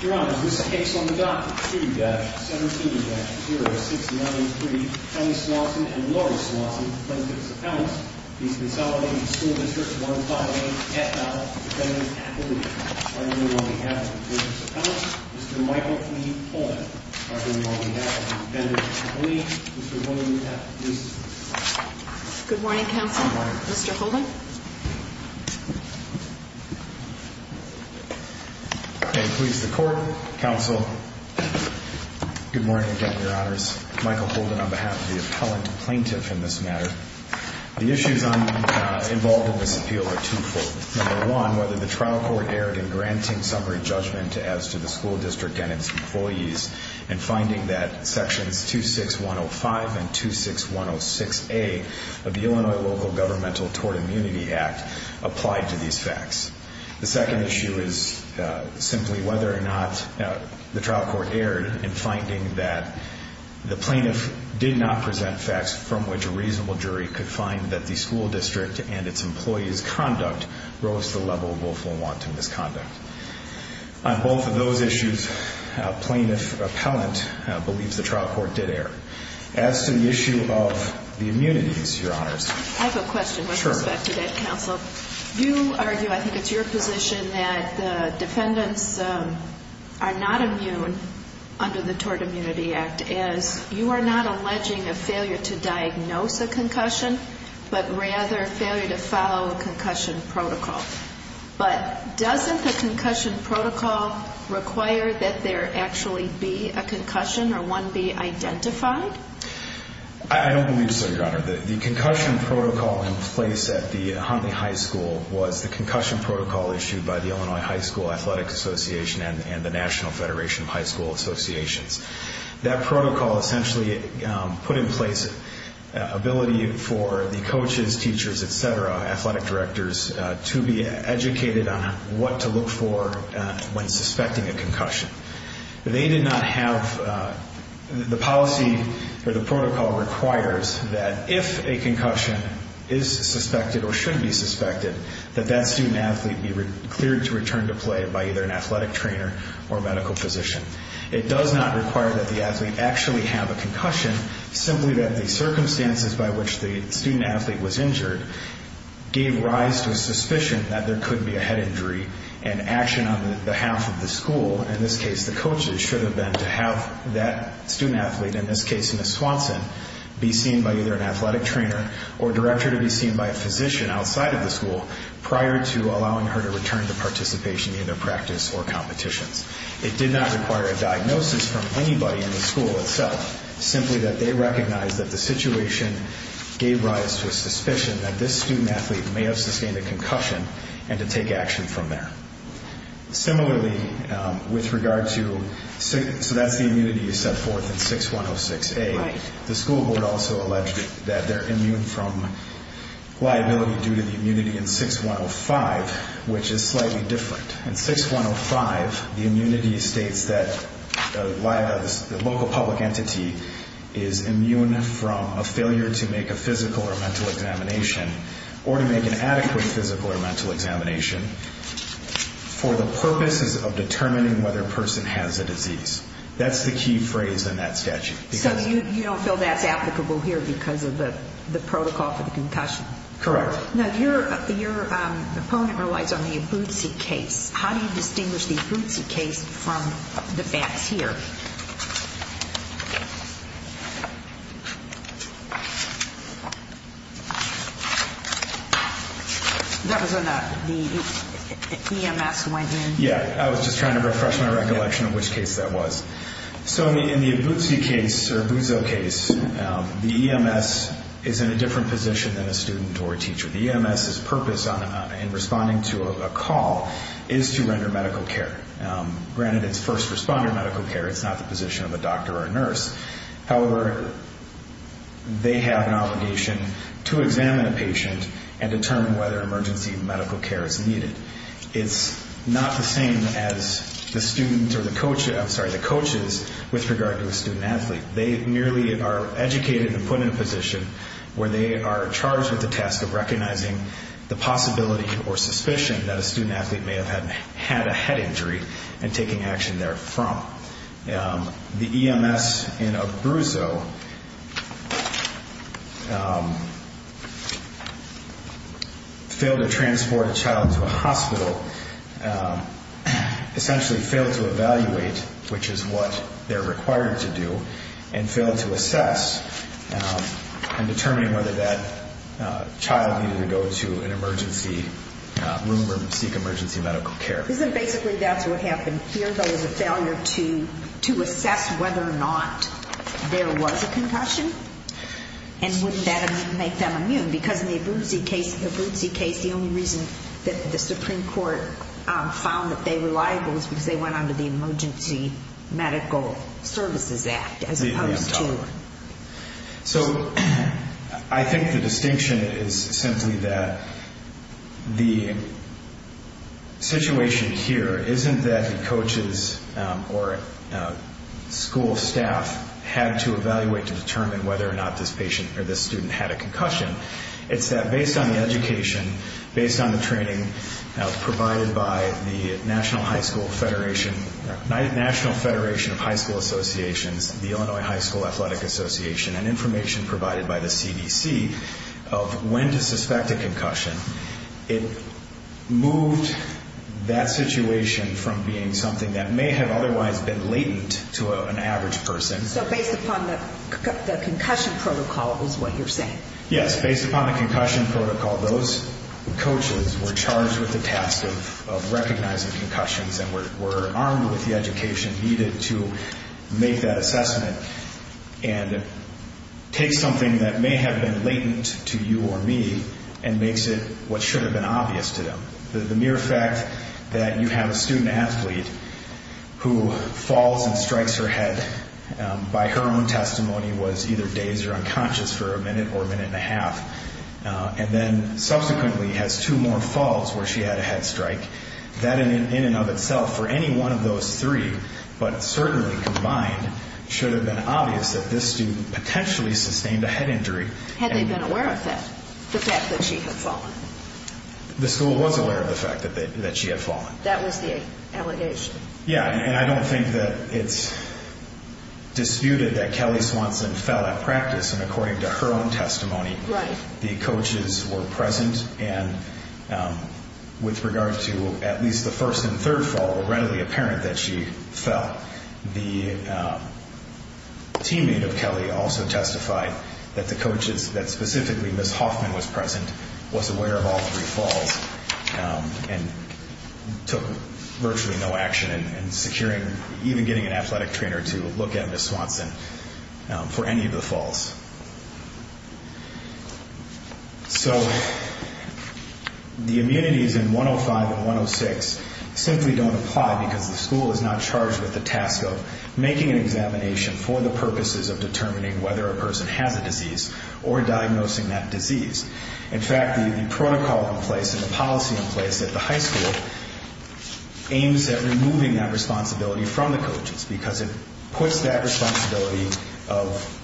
Your Honor, in this case on the docket, 2-17-0693, Henry Swanson and Laurie Swanson, plaintiff's appellants, v. Consolidated School District 158 F.L., defendant's appellate. On behalf of the plaintiff's appellants, Mr. Michael P. Pullen. On behalf of the defendant's appellate, Mr. William F. Ducey. Good morning, counsel. Mr. Pullen. Please, the court, counsel. Good morning again, Your Honors. Michael Pullen on behalf of the appellant plaintiff in this matter. The issues involved in this appeal are twofold. Number one, whether the trial court erred in granting summary judgment as to the school district and its employees and finding that sections 26105 and 26106A of the Illinois Local Governmental Tort Immunity Act applied to these facts. The second issue is simply whether or not the trial court erred in finding that the plaintiff did not present facts from which a reasonable jury could find that the school district and its employees' conduct rose to the level of willful and wanton misconduct. On both of those issues, plaintiff appellant believes the trial court did err. As to the issue of the immunities, Your Honors. Counsel, you argue, I think it's your position, that the defendants are not immune under the Tort Immunity Act as you are not alleging a failure to diagnose a concussion, but rather failure to follow a concussion protocol. But doesn't the concussion protocol require that there actually be a concussion or one be identified? I don't believe so, Your Honor. The concussion protocol in place at the Huntley High School was the concussion protocol issued by the Illinois High School Athletic Association and the National Federation of High School Associations. That protocol essentially put in place ability for the coaches, teachers, et cetera, athletic directors, to be educated on what to look for when suspecting a concussion. They did not have, the policy or the protocol requires that if a concussion is suspected or should be suspected, that that student-athlete be cleared to return to play by either an athletic trainer or medical physician. It does not require that the athlete actually have a concussion, simply that the circumstances by which the student-athlete was injured gave rise to a suspicion that there could be a head injury and action on behalf of the school, in this case the coaches, should have been to have that student-athlete, in this case Ms. Swanson, be seen by either an athletic trainer or director to be seen by a physician outside of the school prior to allowing her to return to participation in their practice or competitions. It did not require a diagnosis from anybody in the school itself, simply that they recognized that the situation gave rise to a suspicion that this student-athlete may have sustained a concussion and to take action from there. Similarly, with regard to, so that's the immunity you set forth in 6106A. The school board also alleged that they're immune from liability due to the immunity in 6105, which is slightly different. In 6105, the immunity states that the local public entity is immune from a failure to make a physical or mental examination or to make an adequate physical or mental examination for the purposes of determining whether a person has a disease. That's the key phrase in that statute. So you don't feel that's applicable here because of the protocol for the concussion? Correct. Now, your opponent relies on the Abuzi case. How do you distinguish the Abuzi case from the facts here? That was when the EMS went in? Yeah, I was just trying to refresh my recollection of which case that was. So in the Abuzi case or Abuzo case, the EMS is in a different position than a student or a teacher. The EMS's purpose in responding to a call is to render medical care. Granted, it's first responder medical care. It's not the position of a doctor or a nurse. However, they have an obligation to examine a patient and determine whether emergency medical care is needed. It's not the same as the students or the coaches with regard to a student-athlete. They merely are educated to put in a position where they are charged with the task of recognizing the possibility or suspicion that a student-athlete may have had a head injury and taking action therefrom. The EMS in Abuzo failed to transport a child into a hospital, essentially failed to evaluate, which is what they're required to do, and failed to assess and determine whether that child needed to go to an emergency room or seek emergency medical care. Isn't basically that's what happened here, though, is a failure to assess whether or not there was a concussion? And wouldn't that make them immune? Because in the Abuzi case, the only reason that the Supreme Court found that they were liable was because they went under the Emergency Medical Services Act as opposed to... I think the distinction is simply that the situation here isn't that the coaches or school staff had to evaluate to determine whether or not this student had a concussion. It's that based on the education, based on the training provided by the National Federation of High School Associations, the Illinois High School Athletic Association, and information provided by the CDC of when to suspect a concussion, it moved that situation from being something that may have otherwise been latent to an average person. So based upon the concussion protocol is what you're saying? Yes, based upon the concussion protocol, those coaches were charged with the task of recognizing concussions and were armed with the education needed to make that assessment and take something that may have been latent to you or me and makes it what should have been obvious to them. The mere fact that you have a student athlete who falls and strikes her head by her own testimony was either dazed or unconscious for a minute or a minute and a half, and then subsequently has two more falls where she had a head strike, that in and of itself for any one of those three, but certainly combined, should have been obvious that this student potentially sustained a head injury. Had they been aware of that, the fact that she had fallen? The school was aware of the fact that she had fallen. That was the allegation. Yes, and I don't think that it's disputed that Kelly Swanson fell at practice, and according to her own testimony, the coaches were present, and with regard to at least the first and third fall, readily apparent that she fell. The teammate of Kelly also testified that the coaches, that specifically Ms. Hoffman was present, was aware of all three falls and took virtually no action in securing, and even getting an athletic trainer to look at Ms. Swanson for any of the falls. So the immunities in 105 and 106 simply don't apply because the school is not charged with the task of making an examination for the purposes of determining whether a person has a disease or diagnosing that disease. In fact, the protocol in place and the policy in place at the high school aims at removing that responsibility from the coaches because it puts that responsibility of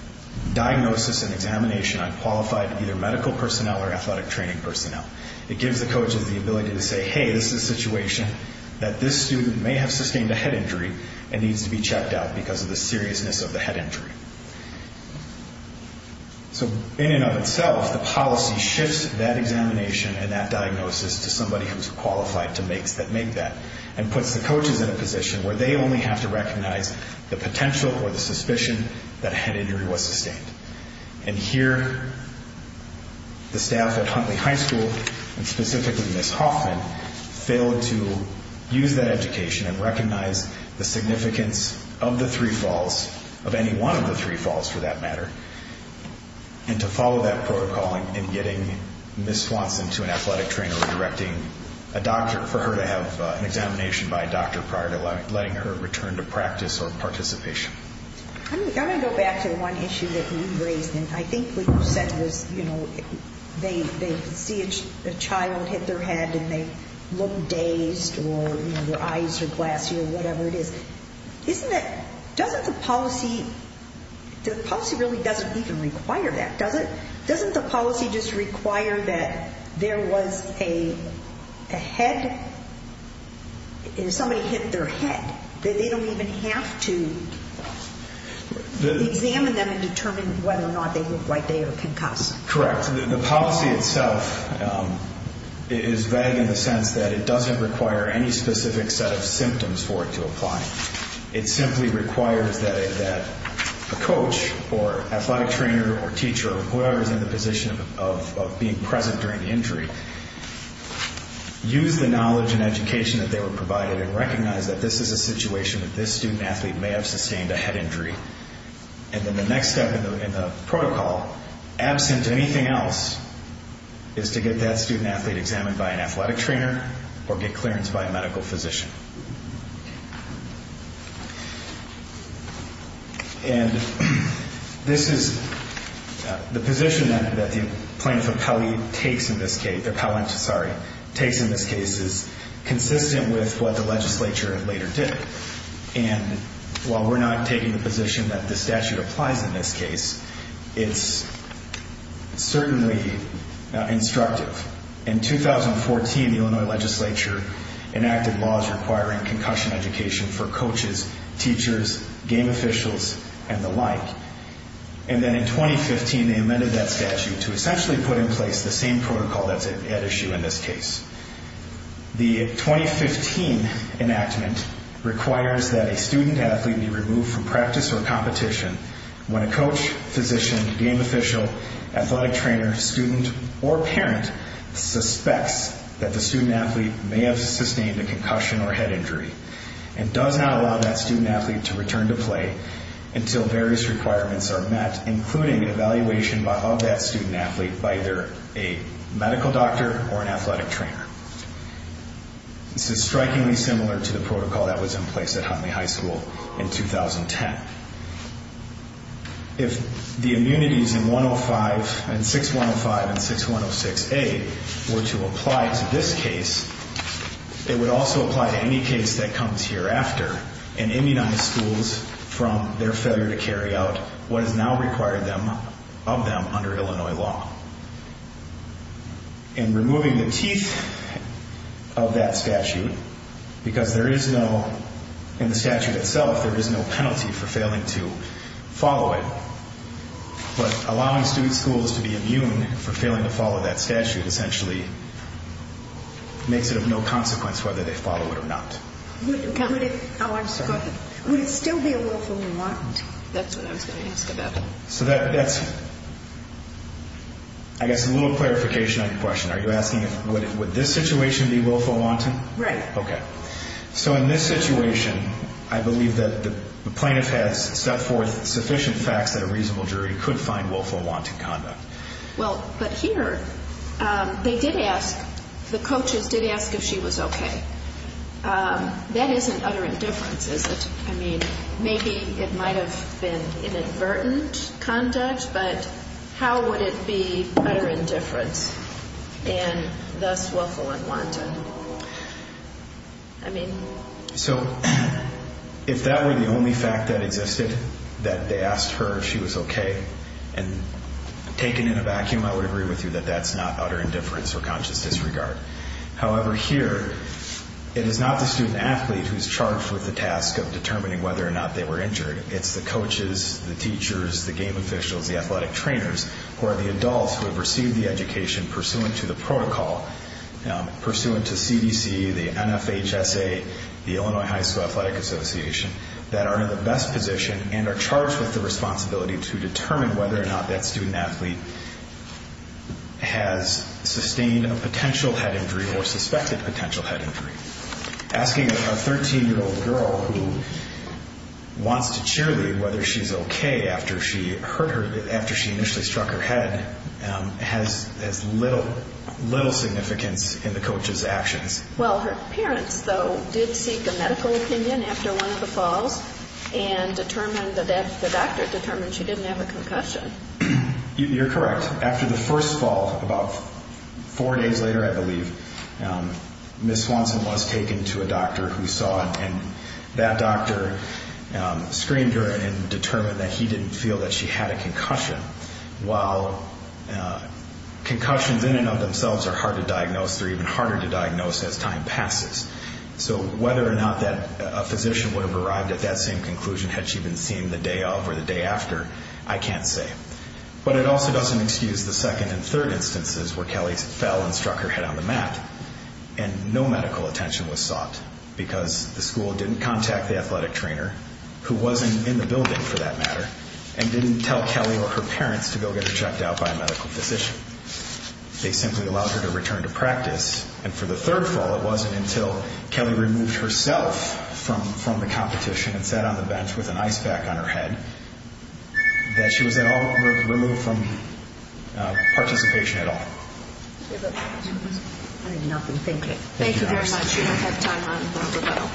diagnosis and examination on qualified either medical personnel or athletic training personnel. It gives the coaches the ability to say, hey, this is a situation that this student may have sustained a head injury and needs to be checked out because of the seriousness of the head injury. So in and of itself, the policy shifts that examination and that diagnosis to somebody who's qualified to make that and puts the coaches in a position where they only have to recognize the potential or the suspicion that a head injury was sustained. And here, the staff at Huntley High School, and specifically Ms. Hoffman, failed to use that education and recognize the significance of the three falls, of any one of the three falls for that matter, and to follow that protocol in getting Ms. Swanson to an athletic trainer or directing a doctor for her to have an examination by a doctor prior to letting her return to practice or participation. I'm going to go back to one issue that you raised, and I think what you said was, you know, they see a child hit their head and they look dazed or their eyes are glassy or whatever it is. Isn't it, doesn't the policy, the policy really doesn't even require that, does it? Doesn't the policy just require that there was a head, somebody hit their head, that they don't even have to examine them and determine whether or not they look like they were concussed? Correct. The policy itself is vague in the sense that it doesn't require any specific set of symptoms for it to apply. It simply requires that a coach or athletic trainer or teacher or whoever is in the position of being present during the injury use the knowledge and education that they were provided and recognize that this is a situation that this student athlete may have sustained a head injury. And then the next step in the protocol, absent anything else, is to get that student athlete examined by an athletic trainer or get clearance by a medical physician. And this is, the position that the plaintiff appellee takes in this case, the appellant, sorry, takes in this case is consistent with what the legislature later did. And while we're not taking the position that the statute applies in this case, it's certainly instructive. In 2014, the Illinois legislature enacted laws requiring concussion education for coaches, teachers, game officials, and the like. And then in 2015, they amended that statute to essentially put in place the same protocol that's at issue in this case. The 2015 enactment requires that a student athlete be removed from practice or competition when a coach, physician, game official, athletic trainer, student, or parent suspects that the student athlete may have sustained a concussion or head injury and does not allow that student athlete to return to play until various requirements are met, including an evaluation of that student athlete by either a medical doctor or an athletic trainer. This is strikingly similar to the protocol that was in place at Huntley High School in 2010. If the immunities in 6105 and 6106A were to apply to this case, it would also apply to any case that comes hereafter and immunize schools from their failure to carry out what is now required of them under Illinois law. And removing the teeth of that statute, because there is no, in the statute itself, there is no penalty for failing to follow it, but allowing student schools to be immune for failing to follow that statute essentially makes it of no consequence whether they follow it or not. Would it still be a willful remand? That's what I was going to ask about. So that's, I guess, a little clarification on your question. Are you asking would this situation be willful wanton? Right. Okay. So in this situation, I believe that the plaintiff has set forth sufficient facts that a reasonable jury could find willful wanton conduct. Well, but here they did ask, the coaches did ask if she was okay. That isn't utter indifference, is it? I mean, maybe it might have been inadvertent conduct, but how would it be utter indifference and thus willful and wanton? I mean. So if that were the only fact that existed, that they asked her if she was okay and taken in a vacuum, I would agree with you that that's not utter indifference or conscious disregard. However, here it is not the student athlete who is charged with the task of determining whether or not they were injured. It's the coaches, the teachers, the game officials, the athletic trainers, who are the adults who have received the education pursuant to the protocol, pursuant to CDC, the NFHSA, the Illinois High School Athletic Association, that are in the best position and are charged with the responsibility to determine whether or not that student athlete has sustained a potential head injury or suspected potential head injury. Asking a 13-year-old girl who wants to cheerlead whether she's okay after she hurt her, after she initially struck her head, has little significance in the coach's actions. Well, her parents, though, did seek a medical opinion after one of the falls and determined that the doctor determined she didn't have a concussion. You're correct. After the first fall, about four days later, I believe, Ms. Swanson was taken to a doctor who saw her, and that doctor screamed her and determined that he didn't feel that she had a concussion. While concussions in and of themselves are hard to diagnose, they're even harder to diagnose as time passes. So whether or not a physician would have arrived at that same conclusion had she been seen the day of or the day after, I can't say. But it also doesn't excuse the second and third instances where Kelly fell and struck her head on the mat, and no medical attention was sought because the school didn't contact the athletic trainer, who wasn't in the building for that matter, and didn't tell Kelly or her parents to go get her checked out by a medical physician. They simply allowed her to return to practice, and for the third fall it wasn't until Kelly removed herself from the competition and sat on the bench with an ice pack on her head that she was at all removed from participation at all. I need nothing. Thank you. Thank you very much. We don't have time for rebuttal.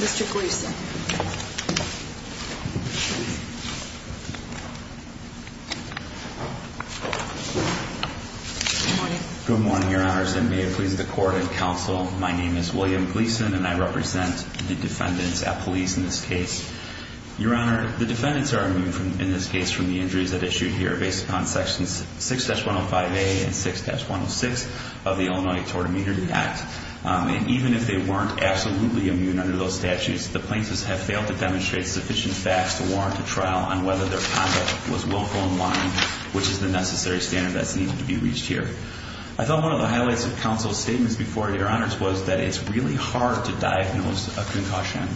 Mr. Gleason. Good morning. Good morning, Your Honors, and may it please the Court and Counsel, my name is William Gleason, and I represent the defendants at police in this case. Your Honor, the defendants are immune in this case from the injuries that are issued here based upon sections 6-105A and 6-106 of the Illinois Tort Immunity Act. And even if they weren't absolutely immune under those statutes, the plaintiffs are not immune. sufficient facts to warrant a trial on whether their conduct was willful in line, which is the necessary standard that's needed to be reached here. I thought one of the highlights of Counsel's statements before, Your Honors, was that it's really hard to diagnose a concussion,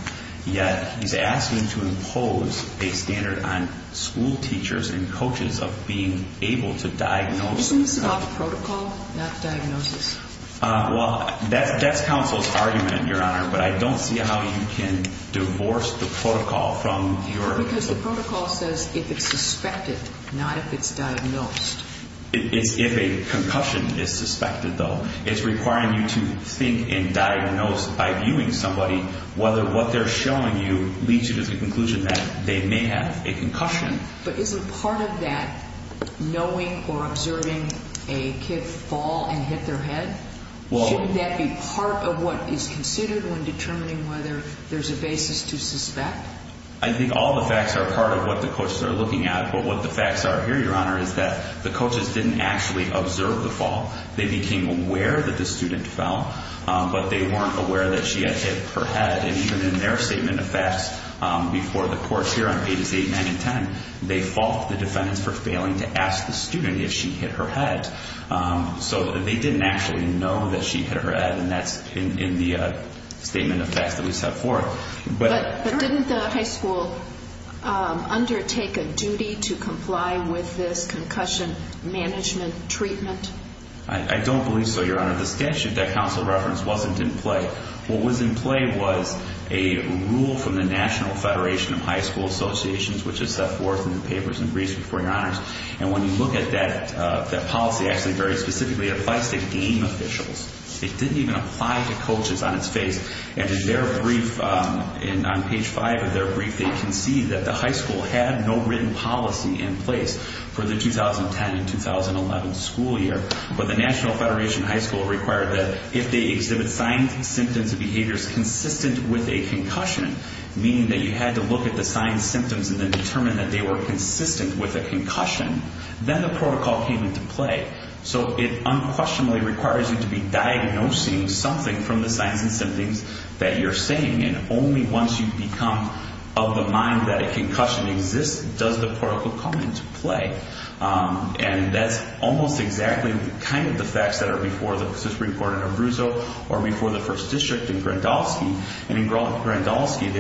yet he's asking to impose a standard on school teachers and coaches of being able to diagnose. He's talking about protocol, not diagnosis. Well, that's Counsel's argument, Your Honor, but I don't see how you can divorce the protocol from your... Because the protocol says if it's suspected, not if it's diagnosed. It's if a concussion is suspected, though. It's requiring you to think and diagnose by viewing somebody, whether what they're showing you leads you to the conclusion that they may have a concussion. But isn't part of that knowing or observing a kid fall and hit their head? Well... Shouldn't that be part of what is considered when determining whether there's a basis to suspect? I think all the facts are part of what the coaches are looking at, but what the facts are here, Your Honor, is that the coaches didn't actually observe the fall. They became aware that the student fell, but they weren't aware that she had hit her head. Even in their statement of facts before the courts here on pages 8, 9, and 10, they fault the defendants for failing to ask the student if she hit her head. So they didn't actually know that she hit her head, and that's in the statement of facts that we set forth. But didn't the high school undertake a duty to comply with this concussion management treatment? I don't believe so, Your Honor. The statute that Counsel referenced wasn't in play. What was in play was a rule from the National Federation of High School Associations, which is set forth in the papers and briefs before Your Honors. And when you look at that policy actually very specifically, it applies to game officials. It didn't even apply to coaches on its face. And in their brief, on page 5 of their brief, they concede that the high school had no written policy in place for the 2010 and 2011 school year. But the National Federation of High School required that if they exhibit signs, symptoms, and behaviors consistent with a concussion, meaning that you had to look at the signs, symptoms, and then determine that they were consistent with a concussion, then the protocol came into play. So it unquestionably requires you to be diagnosing something from the signs and symptoms that you're saying. And only once you become of the mind that a concussion exists does the protocol come into play. And that's almost exactly kind of the facts that are before the Supreme Court in Abruzzo or before the First District in Grandolski. And in Grandolski,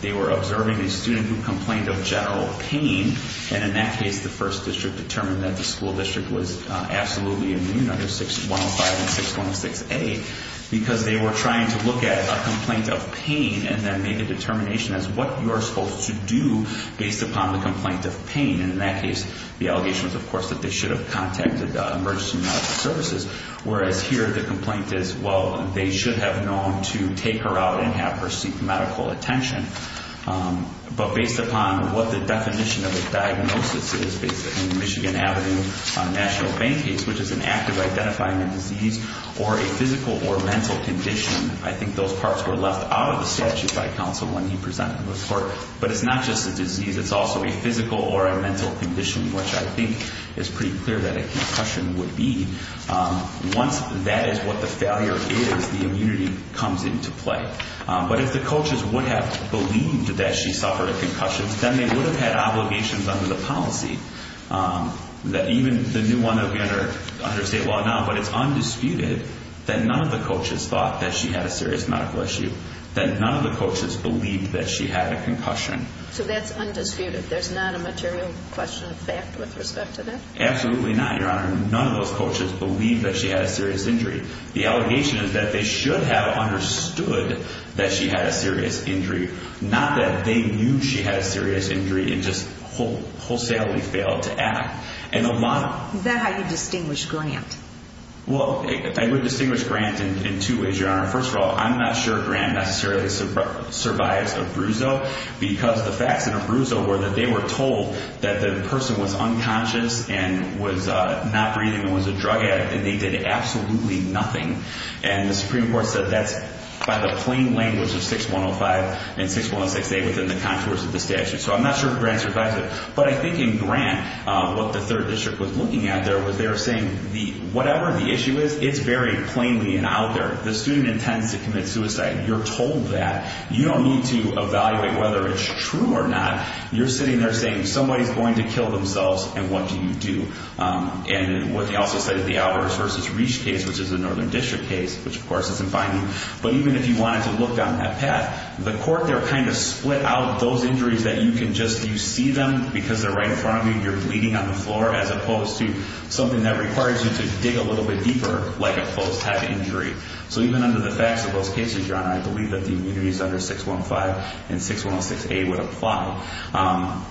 they were observing a student who complained of general pain. And in that case, the First District determined that the school district was absolutely immune under 6105 and 6106A because they were trying to look at a complaint of pain and then make a determination as to what you are supposed to do based upon the complaint of pain. And in that case, the allegation was, of course, that they should have contacted emergency medical services. Whereas here, the complaint is, well, they should have known to take her out and have her seek medical attention. But based upon what the definition of a diagnosis is, based upon the Michigan Avenue National Pain Case, which is an act of identifying a disease or a physical or mental condition, I think those parts were left out of the statute by counsel when he presented the report. But it's not just a disease. It's also a physical or a mental condition, which I think is pretty clear that a concussion would be. Once that is what the failure is, the immunity comes into play. But if the coaches would have believed that she suffered a concussion, then they would have had obligations under the policy that even the new one under state law now, but it's undisputed that none of the coaches thought that she had a serious medical issue, that none of the coaches believed that she had a concussion. So that's undisputed. There's not a material question of fact with respect to that? Absolutely not, Your Honor. None of those coaches believed that she had a serious injury. The allegation is that they should have understood that she had a serious injury, not that they knew she had a serious injury and just wholesalely failed to act. Is that how you distinguish Grant? Well, I would distinguish Grant in two ways, Your Honor. First of all, I'm not sure Grant necessarily survives a bruise, though, because the facts in a bruise were that they were told that the person was unconscious and was not breathing and was a drug addict and they did absolutely nothing. And the Supreme Court said that's by the plain language of 6105 and 6106A within the contours of the statute. So I'm not sure if Grant survives it. But I think in Grant, what the 3rd District was looking at there was they were saying whatever the issue is, it's very plainly and out there. The student intends to commit suicide. You're told that. You don't need to evaluate whether it's true or not. You're sitting there saying somebody's going to kill themselves, and what do you do? And what they also said is the Alvarez v. Reach case, which is a Northern District case, which, of course, isn't binding. But even if you wanted to look down that path, the court there kind of split out those injuries that you can just see them because they're right in front of you, you're bleeding on the floor, as opposed to something that requires you to dig a little bit deeper, like a post-head injury. So even under the facts of those cases, Grant, I believe that the immunities under 6105 and 6106A would apply.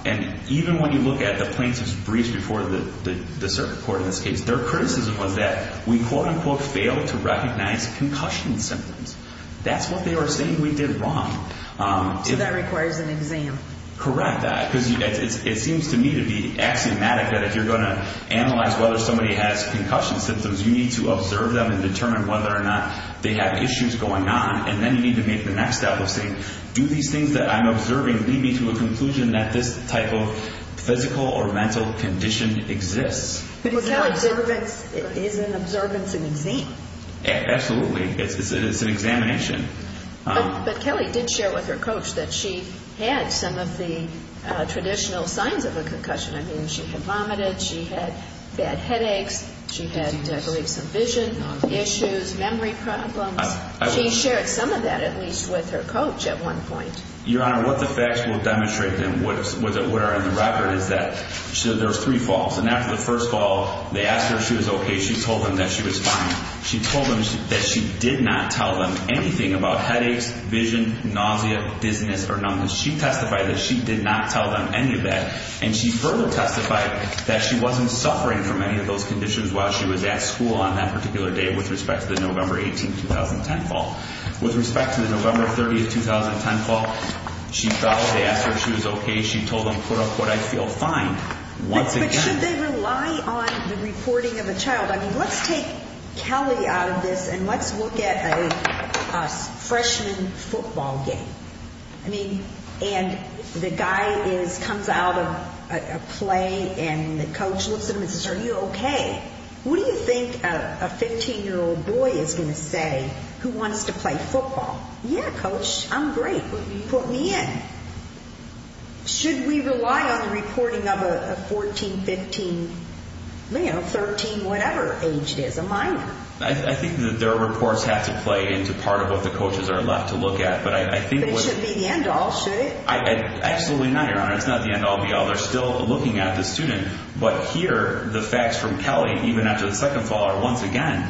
And even when you look at the plaintiff's briefs before the circuit court in this case, their criticism was that we, quote-unquote, failed to recognize concussion symptoms. That's what they were saying we did wrong. So that requires an exam. Correct that, because it seems to me to be axiomatic that if you're going to analyze whether somebody has concussion symptoms, you need to observe them and determine whether or not they have issues going on. And then you need to make the next step of saying, do these things that I'm observing lead me to a conclusion that this type of physical or mental condition exists? Is an observance an exam? Absolutely. It's an examination. But Kelly did share with her coach that she had some of the traditional signs of a concussion. I mean, she had vomited, she had bad headaches, she had, I believe, some vision issues, memory problems. She shared some of that, at least, with her coach at one point. Your Honor, what the facts will demonstrate and what are in the record is that there was three falls. And after the first fall, they asked her if she was okay. She told them that she was fine. She told them that she did not tell them anything about headaches, vision, nausea, dizziness, or numbness. She testified that she did not tell them any of that. And she further testified that she wasn't suffering from any of those conditions while she was at school on that particular day with respect to the November 18, 2010 fall. With respect to the November 30, 2010 fall, she fell. They asked her if she was okay. She told them, quote, unquote, I feel fine. But should they rely on the reporting of a child? I mean, let's take Kelly out of this and let's look at a freshman football game. I mean, and the guy comes out of a play and the coach looks at him and says, Are you okay? What do you think a 15-year-old boy is going to say who wants to play football? Yeah, Coach, I'm great. Put me in. Should we rely on the reporting of a 14, 15, you know, 13, whatever age it is, a minor? I think that their reports have to play into part of what the coaches are allowed to look at. But it shouldn't be the end all, should it? Absolutely not, Your Honor. It's not the end all, be all. They're still looking at the student. But here, the facts from Kelly, even after the second fall, are once again,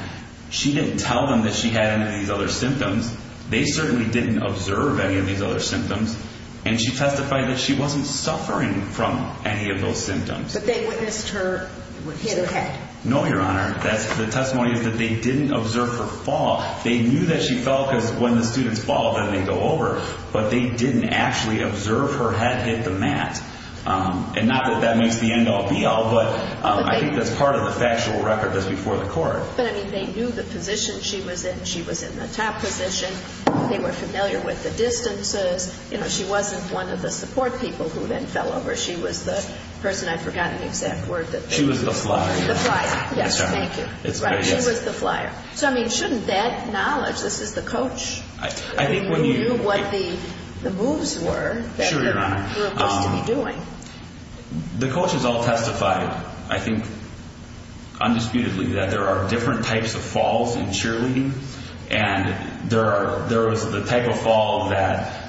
she didn't tell them that she had any of these other symptoms. They certainly didn't observe any of these other symptoms. And she testified that she wasn't suffering from any of those symptoms. But they witnessed her hit her head. No, Your Honor. The testimony is that they didn't observe her fall. They knew that she fell because when the students fall, then they go over. But they didn't actually observe her head hit the mat. And not that that makes the end all, be all, but I think that's part of the factual record that's before the court. But, I mean, they knew the position she was in. She was in the top position. They were familiar with the distances. You know, she wasn't one of the support people who then fell over. She was the person, I've forgotten the exact word. She was the flyer. The flyer. Yes, Your Honor. Thank you. She was the flyer. So, I mean, shouldn't that knowledge, this is the coach. I think when you knew what the moves were. Sure, Your Honor. That they were supposed to be doing. The coaches all testified, I think, undisputedly, that there are different types of falls in cheerleading. And there was the type of fall that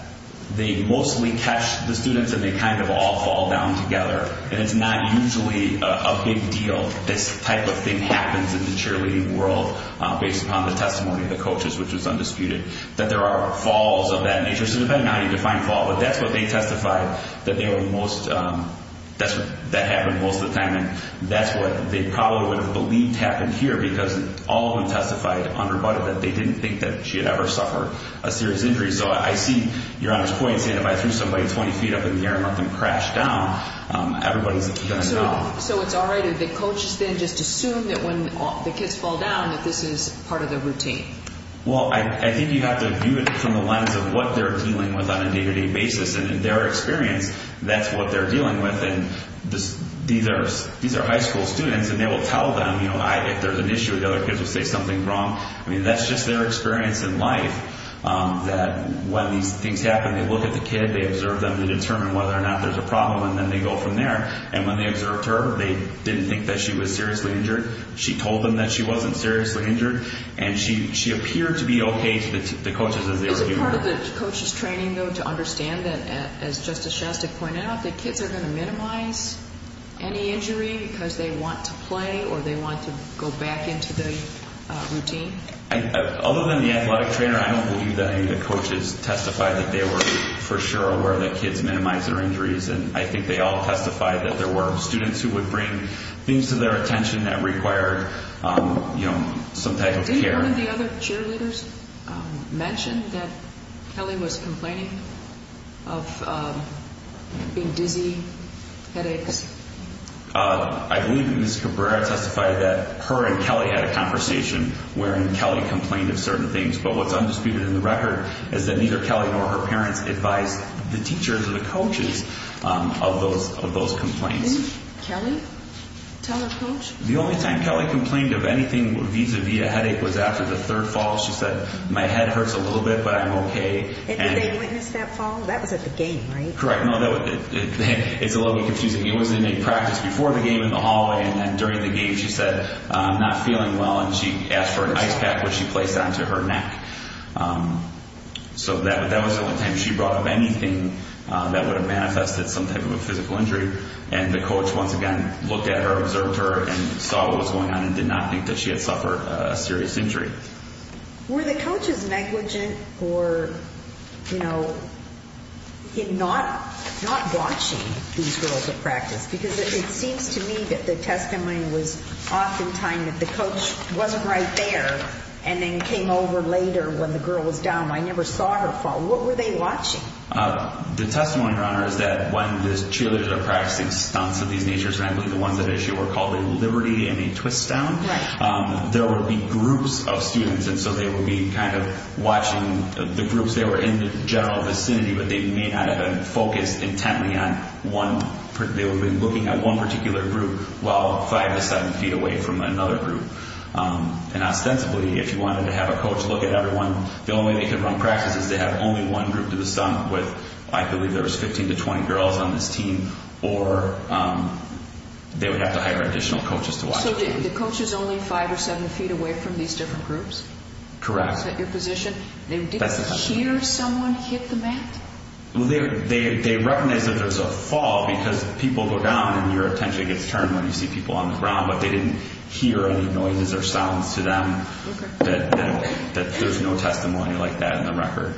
they mostly catch the students and they kind of all fall down together. And it's not usually a big deal this type of thing happens. In the cheerleading world, based upon the testimony of the coaches, which was undisputed, that there are falls of that nature. So, depending on how you define fall. But that's what they testified that they were most, that happened most of the time. And that's what they probably would have believed happened here. Because all of them testified under budget that they didn't think that she had ever suffered a serious injury. So, I see Your Honor's point, saying if I threw somebody 20 feet up in the air and let them crash down, everybody's going to know. So, it's all right if the coaches then just assume that when the kids fall down, that this is part of their routine. Well, I think you have to view it from the lens of what they're dealing with on a day-to-day basis. And in their experience, that's what they're dealing with. And these are high school students and they will tell them if there's an issue, the other kids will say something wrong. I mean, that's just their experience in life. That when these things happen, they look at the kid, they observe them, they determine whether or not there's a problem, and then they go from there. And when they observed her, they didn't think that she was seriously injured. She told them that she wasn't seriously injured. And she appeared to be okay to the coaches as they were dealing with her. Is it part of the coach's training, though, to understand that, as Justice Shastak pointed out, that kids are going to minimize any injury because they want to play or they want to go back into the routine? Other than the athletic trainer, I don't believe that any of the coaches testified that they were for sure aware that kids minimize their injuries. And I think they all testified that there were students who would bring things to their attention that required some type of care. Did any of the other cheerleaders mention that Kelly was complaining of being dizzy, headaches? I believe that Ms. Cabrera testified that her and Kelly had a conversation wherein Kelly complained of certain things. But what's undisputed in the record is that neither Kelly nor her parents advised the teachers or the coaches of those complaints. Didn't Kelly tell her coach? The only time Kelly complained of anything vis-à-vis a headache was after the third fall. She said, my head hurts a little bit, but I'm okay. And did they witness that fall? That was at the game, right? Correct. No, it's a little bit confusing. It was in a practice before the game in the hallway. And during the game, she said, I'm not feeling well. And she asked for an ice pack, which she placed onto her neck. So that was the only time she brought up anything that would have manifested some type of a physical injury. And the coach, once again, looked at her, observed her, and saw what was going on and did not think that she had suffered a serious injury. Were the coaches negligent or, you know, in not watching these girls at practice? Because it seems to me that the testimony was oftentimes that the coach wasn't right there and then came over later when the girl was down. I never saw her fall. What were they watching? The testimony, Your Honor, is that when the cheerleaders are practicing stunts of these natures, and I believe the ones that issue were called a liberty and a twist down, there would be groups of students. And so they would be kind of watching the groups. They were in the general vicinity, but they may not have been focused intently on one. They would be looking at one particular group while five to seven feet away from another group. And ostensibly, if you wanted to have a coach look at everyone, the only way they could run practice is to have only one group do the stunt with, I believe there was 15 to 20 girls on this team, or they would have to hire additional coaches to watch. So the coach is only five or seven feet away from these different groups? Is that your position? That's the testimony. They didn't hear someone hit the mat? Well, they recognize that there's a fall because people go down and your attention gets turned when you see people on the ground, but they didn't hear any noises or sounds to them. Okay. That there's no testimony like that in the record.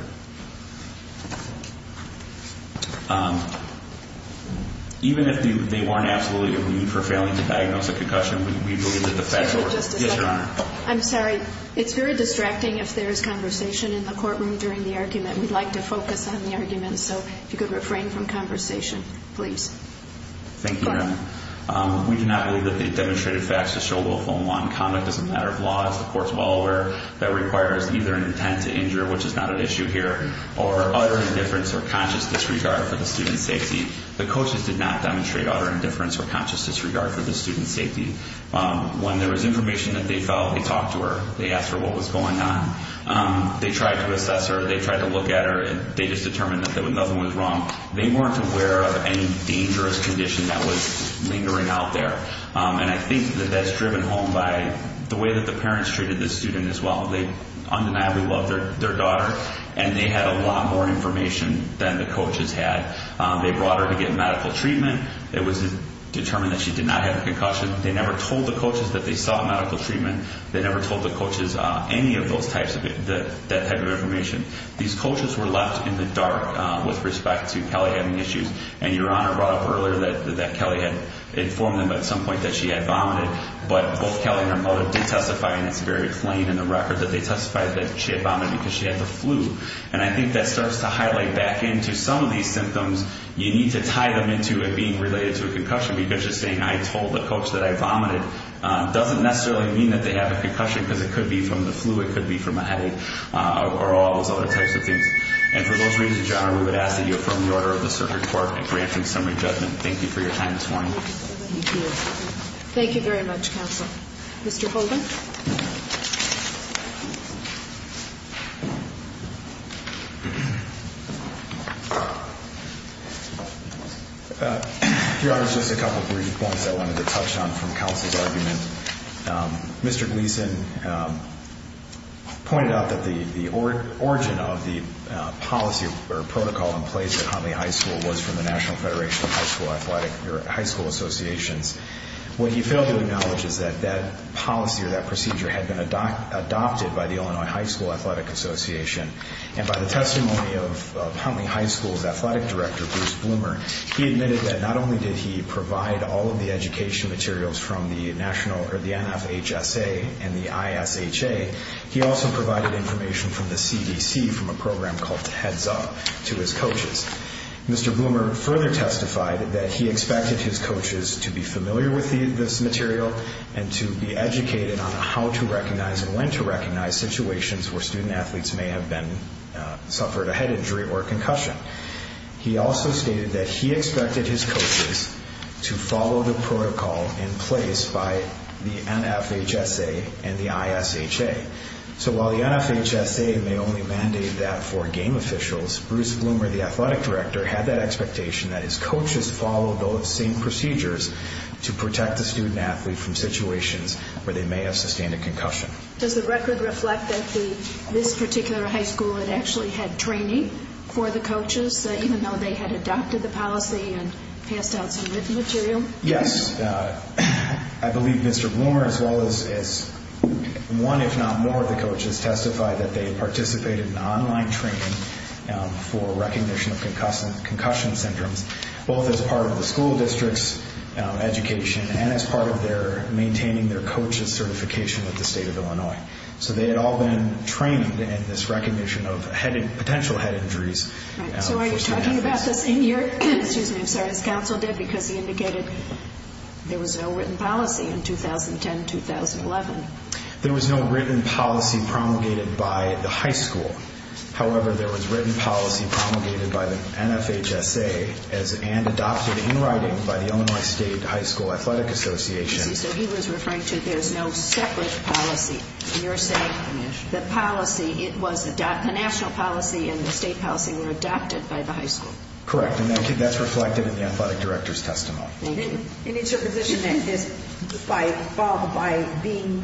Even if they weren't absolutely aggrieved for failing to diagnose a concussion, we believe that the facts were... Just a second. Yes, Your Honor. I'm sorry. It's very distracting if there's conversation in the courtroom during the argument. We'd like to focus on the argument, so if you could refrain from conversation, please. Thank you, Your Honor. Go ahead. We do not believe that they demonstrated facts to show willful and wrong conduct. It's a matter of law. It's the court's law where that requires either an intent to injure, which is not an issue here, or utter indifference or conscious disregard for the student's safety. The coaches did not demonstrate utter indifference or conscious disregard for the student's safety. When there was information that they felt, they talked to her. They asked her what was going on. They tried to assess her. They tried to look at her, and they just determined that nothing was wrong. They weren't aware of any dangerous condition that was lingering out there, and I think that that's driven home by the way that the parents treated this student as well. They undeniably loved their daughter, and they had a lot more information than the coaches had. They brought her to get medical treatment. It was determined that she did not have a concussion. They never told the coaches that they sought medical treatment. They never told the coaches any of those types of information. These coaches were left in the dark with respect to Kelly having issues, and Your Honor brought up earlier that Kelly had informed them at some point that she had vomited, but both Kelly and her mother did testify, and it's very plain in the record that they testified that she had vomited because she had the flu, and I think that starts to highlight back into some of these symptoms. You need to tie them into it being related to a concussion because just saying, I told the coach that I vomited doesn't necessarily mean that they have a concussion because it could be from the flu, it could be from a headache, or all those other types of things. And for those reasons, Your Honor, we would ask that you affirm the order of the circuit court in granting summary judgment. Thank you for your time this morning. Thank you. Thank you very much, counsel. Mr. Holden. Your Honor, just a couple brief points I wanted to touch on from counsel's argument. Mr. Gleason pointed out that the origin of the policy or protocol in place at Huntley High School was from the National Federation of High School Associations. What he failed to acknowledge is that that policy or that procedure had been adopted by the Illinois High School Athletic Association, and by the testimony of Huntley High School's athletic director, Bruce Bloomer, he admitted that not only did he provide all of the education materials from the NFHSA and the ISHA, he also provided information from the CDC from a program called Heads Up to his coaches. Mr. Bloomer further testified that he expected his coaches to be familiar with this material and to be educated on how to recognize and when to recognize situations where student athletes may have suffered a head injury or a concussion. He also stated that he expected his coaches to follow the protocol in place by the NFHSA and the ISHA. So while the NFHSA may only mandate that for game officials, Bruce Bloomer, the athletic director, had that expectation that his coaches follow those same procedures to protect the student athlete from situations where they may have sustained a concussion. Does the record reflect that this particular high school had actually had training for the coaches, even though they had adopted the policy and passed out some written material? Yes. I believe Mr. Bloomer, as well as one if not more of the coaches, testified that they participated in online training for recognition of concussion syndromes, both as part of the school district's education and as part of maintaining their coaches' certification at the state of Illinois. So they had all been trained in this recognition of potential head injuries. So are you talking about the same year, excuse me, I'm sorry, as counsel did because he indicated there was no written policy in 2010-2011? There was no written policy promulgated by the high school. However, there was written policy promulgated by the NFHSA and adopted in writing by the Illinois State High School Athletic Association. So he was referring to there's no separate policy. You're saying the policy, it was a national policy and the state policy were adopted by the high school. Correct, and that's reflected in the athletic director's testimony. Thank you. And it's your position that by being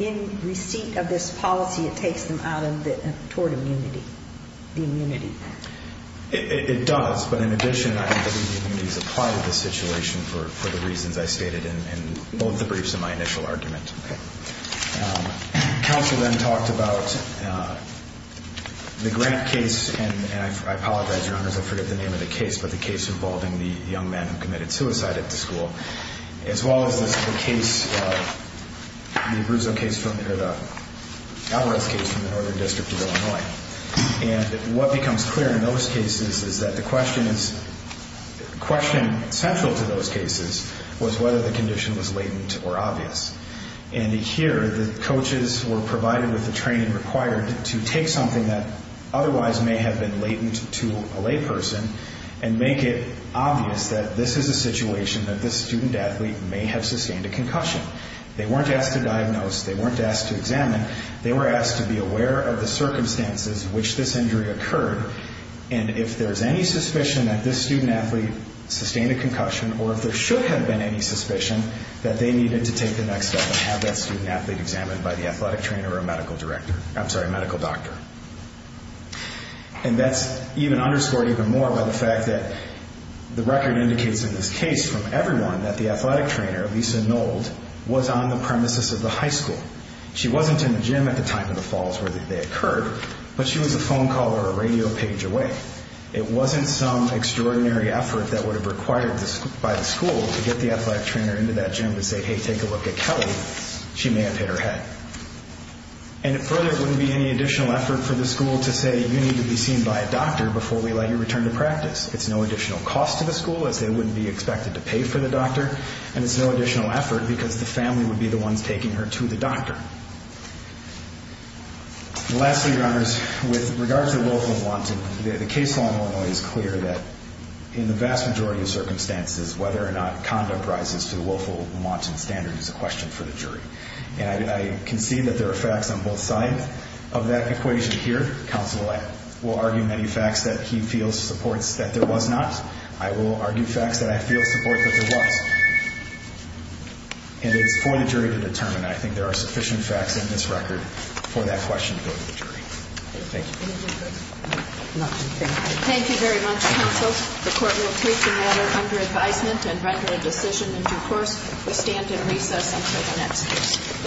in receipt of this policy, it takes them out toward immunity, the immunity? It does, but in addition, I believe the immunity is a part of the situation for the reasons I stated in both the briefs and my initial argument. Okay. Counsel then talked about the grant case, and I apologize, Your Honors, I forget the name of the case, but the case involving the young man who committed suicide at the school, as well as the Abruzzo case from here, the Alvarez case from the Northern District of Illinois. And what becomes clear in those cases is that the question is, the question central to those cases was whether the condition was latent or obvious. And here, the coaches were provided with the training required to take something that otherwise may have been latent to a layperson and make it obvious that this is a situation that this student athlete may have sustained a concussion. They weren't asked to diagnose. They weren't asked to examine. They were asked to be aware of the circumstances in which this injury occurred, and if there's any suspicion that this student athlete sustained a concussion or if there should have been any suspicion, that they needed to take the next step and have that student athlete examined by the athletic trainer or medical director. I'm sorry, medical doctor. And that's even underscored even more by the fact that the record indicates in this case from everyone that the athletic trainer, Lisa Nold, was on the premises of the high school. She wasn't in the gym at the time of the falls where they occurred, but she was a phone call or a radio page away. It wasn't some extraordinary effort that would have required by the school to get the athletic trainer into that gym to say, hey, take a look at Kelly. She may have hit her head. And it further wouldn't be any additional effort for the school to say, you need to be seen by a doctor before we let you return to practice. It's no additional cost to the school, as they wouldn't be expected to pay for the doctor, and it's no additional effort because the family would be the ones taking her to the doctor. Lastly, Your Honors, with regard to the willful and wanton, the case law in Illinois is clear that in the vast majority of circumstances, whether or not conduct rises to the willful and wanton standard is a question for the jury. And I concede that there are facts on both sides of that equation here. Counsel will argue many facts that he feels supports that there was not. I will argue facts that I feel support that there was. And it's for the jury to determine. I think there are sufficient facts in this record for that question to go to the jury. Thank you. Thank you very much, counsel. The court will take the matter under advisement and render a decision in due course. We stand in recess until the next case.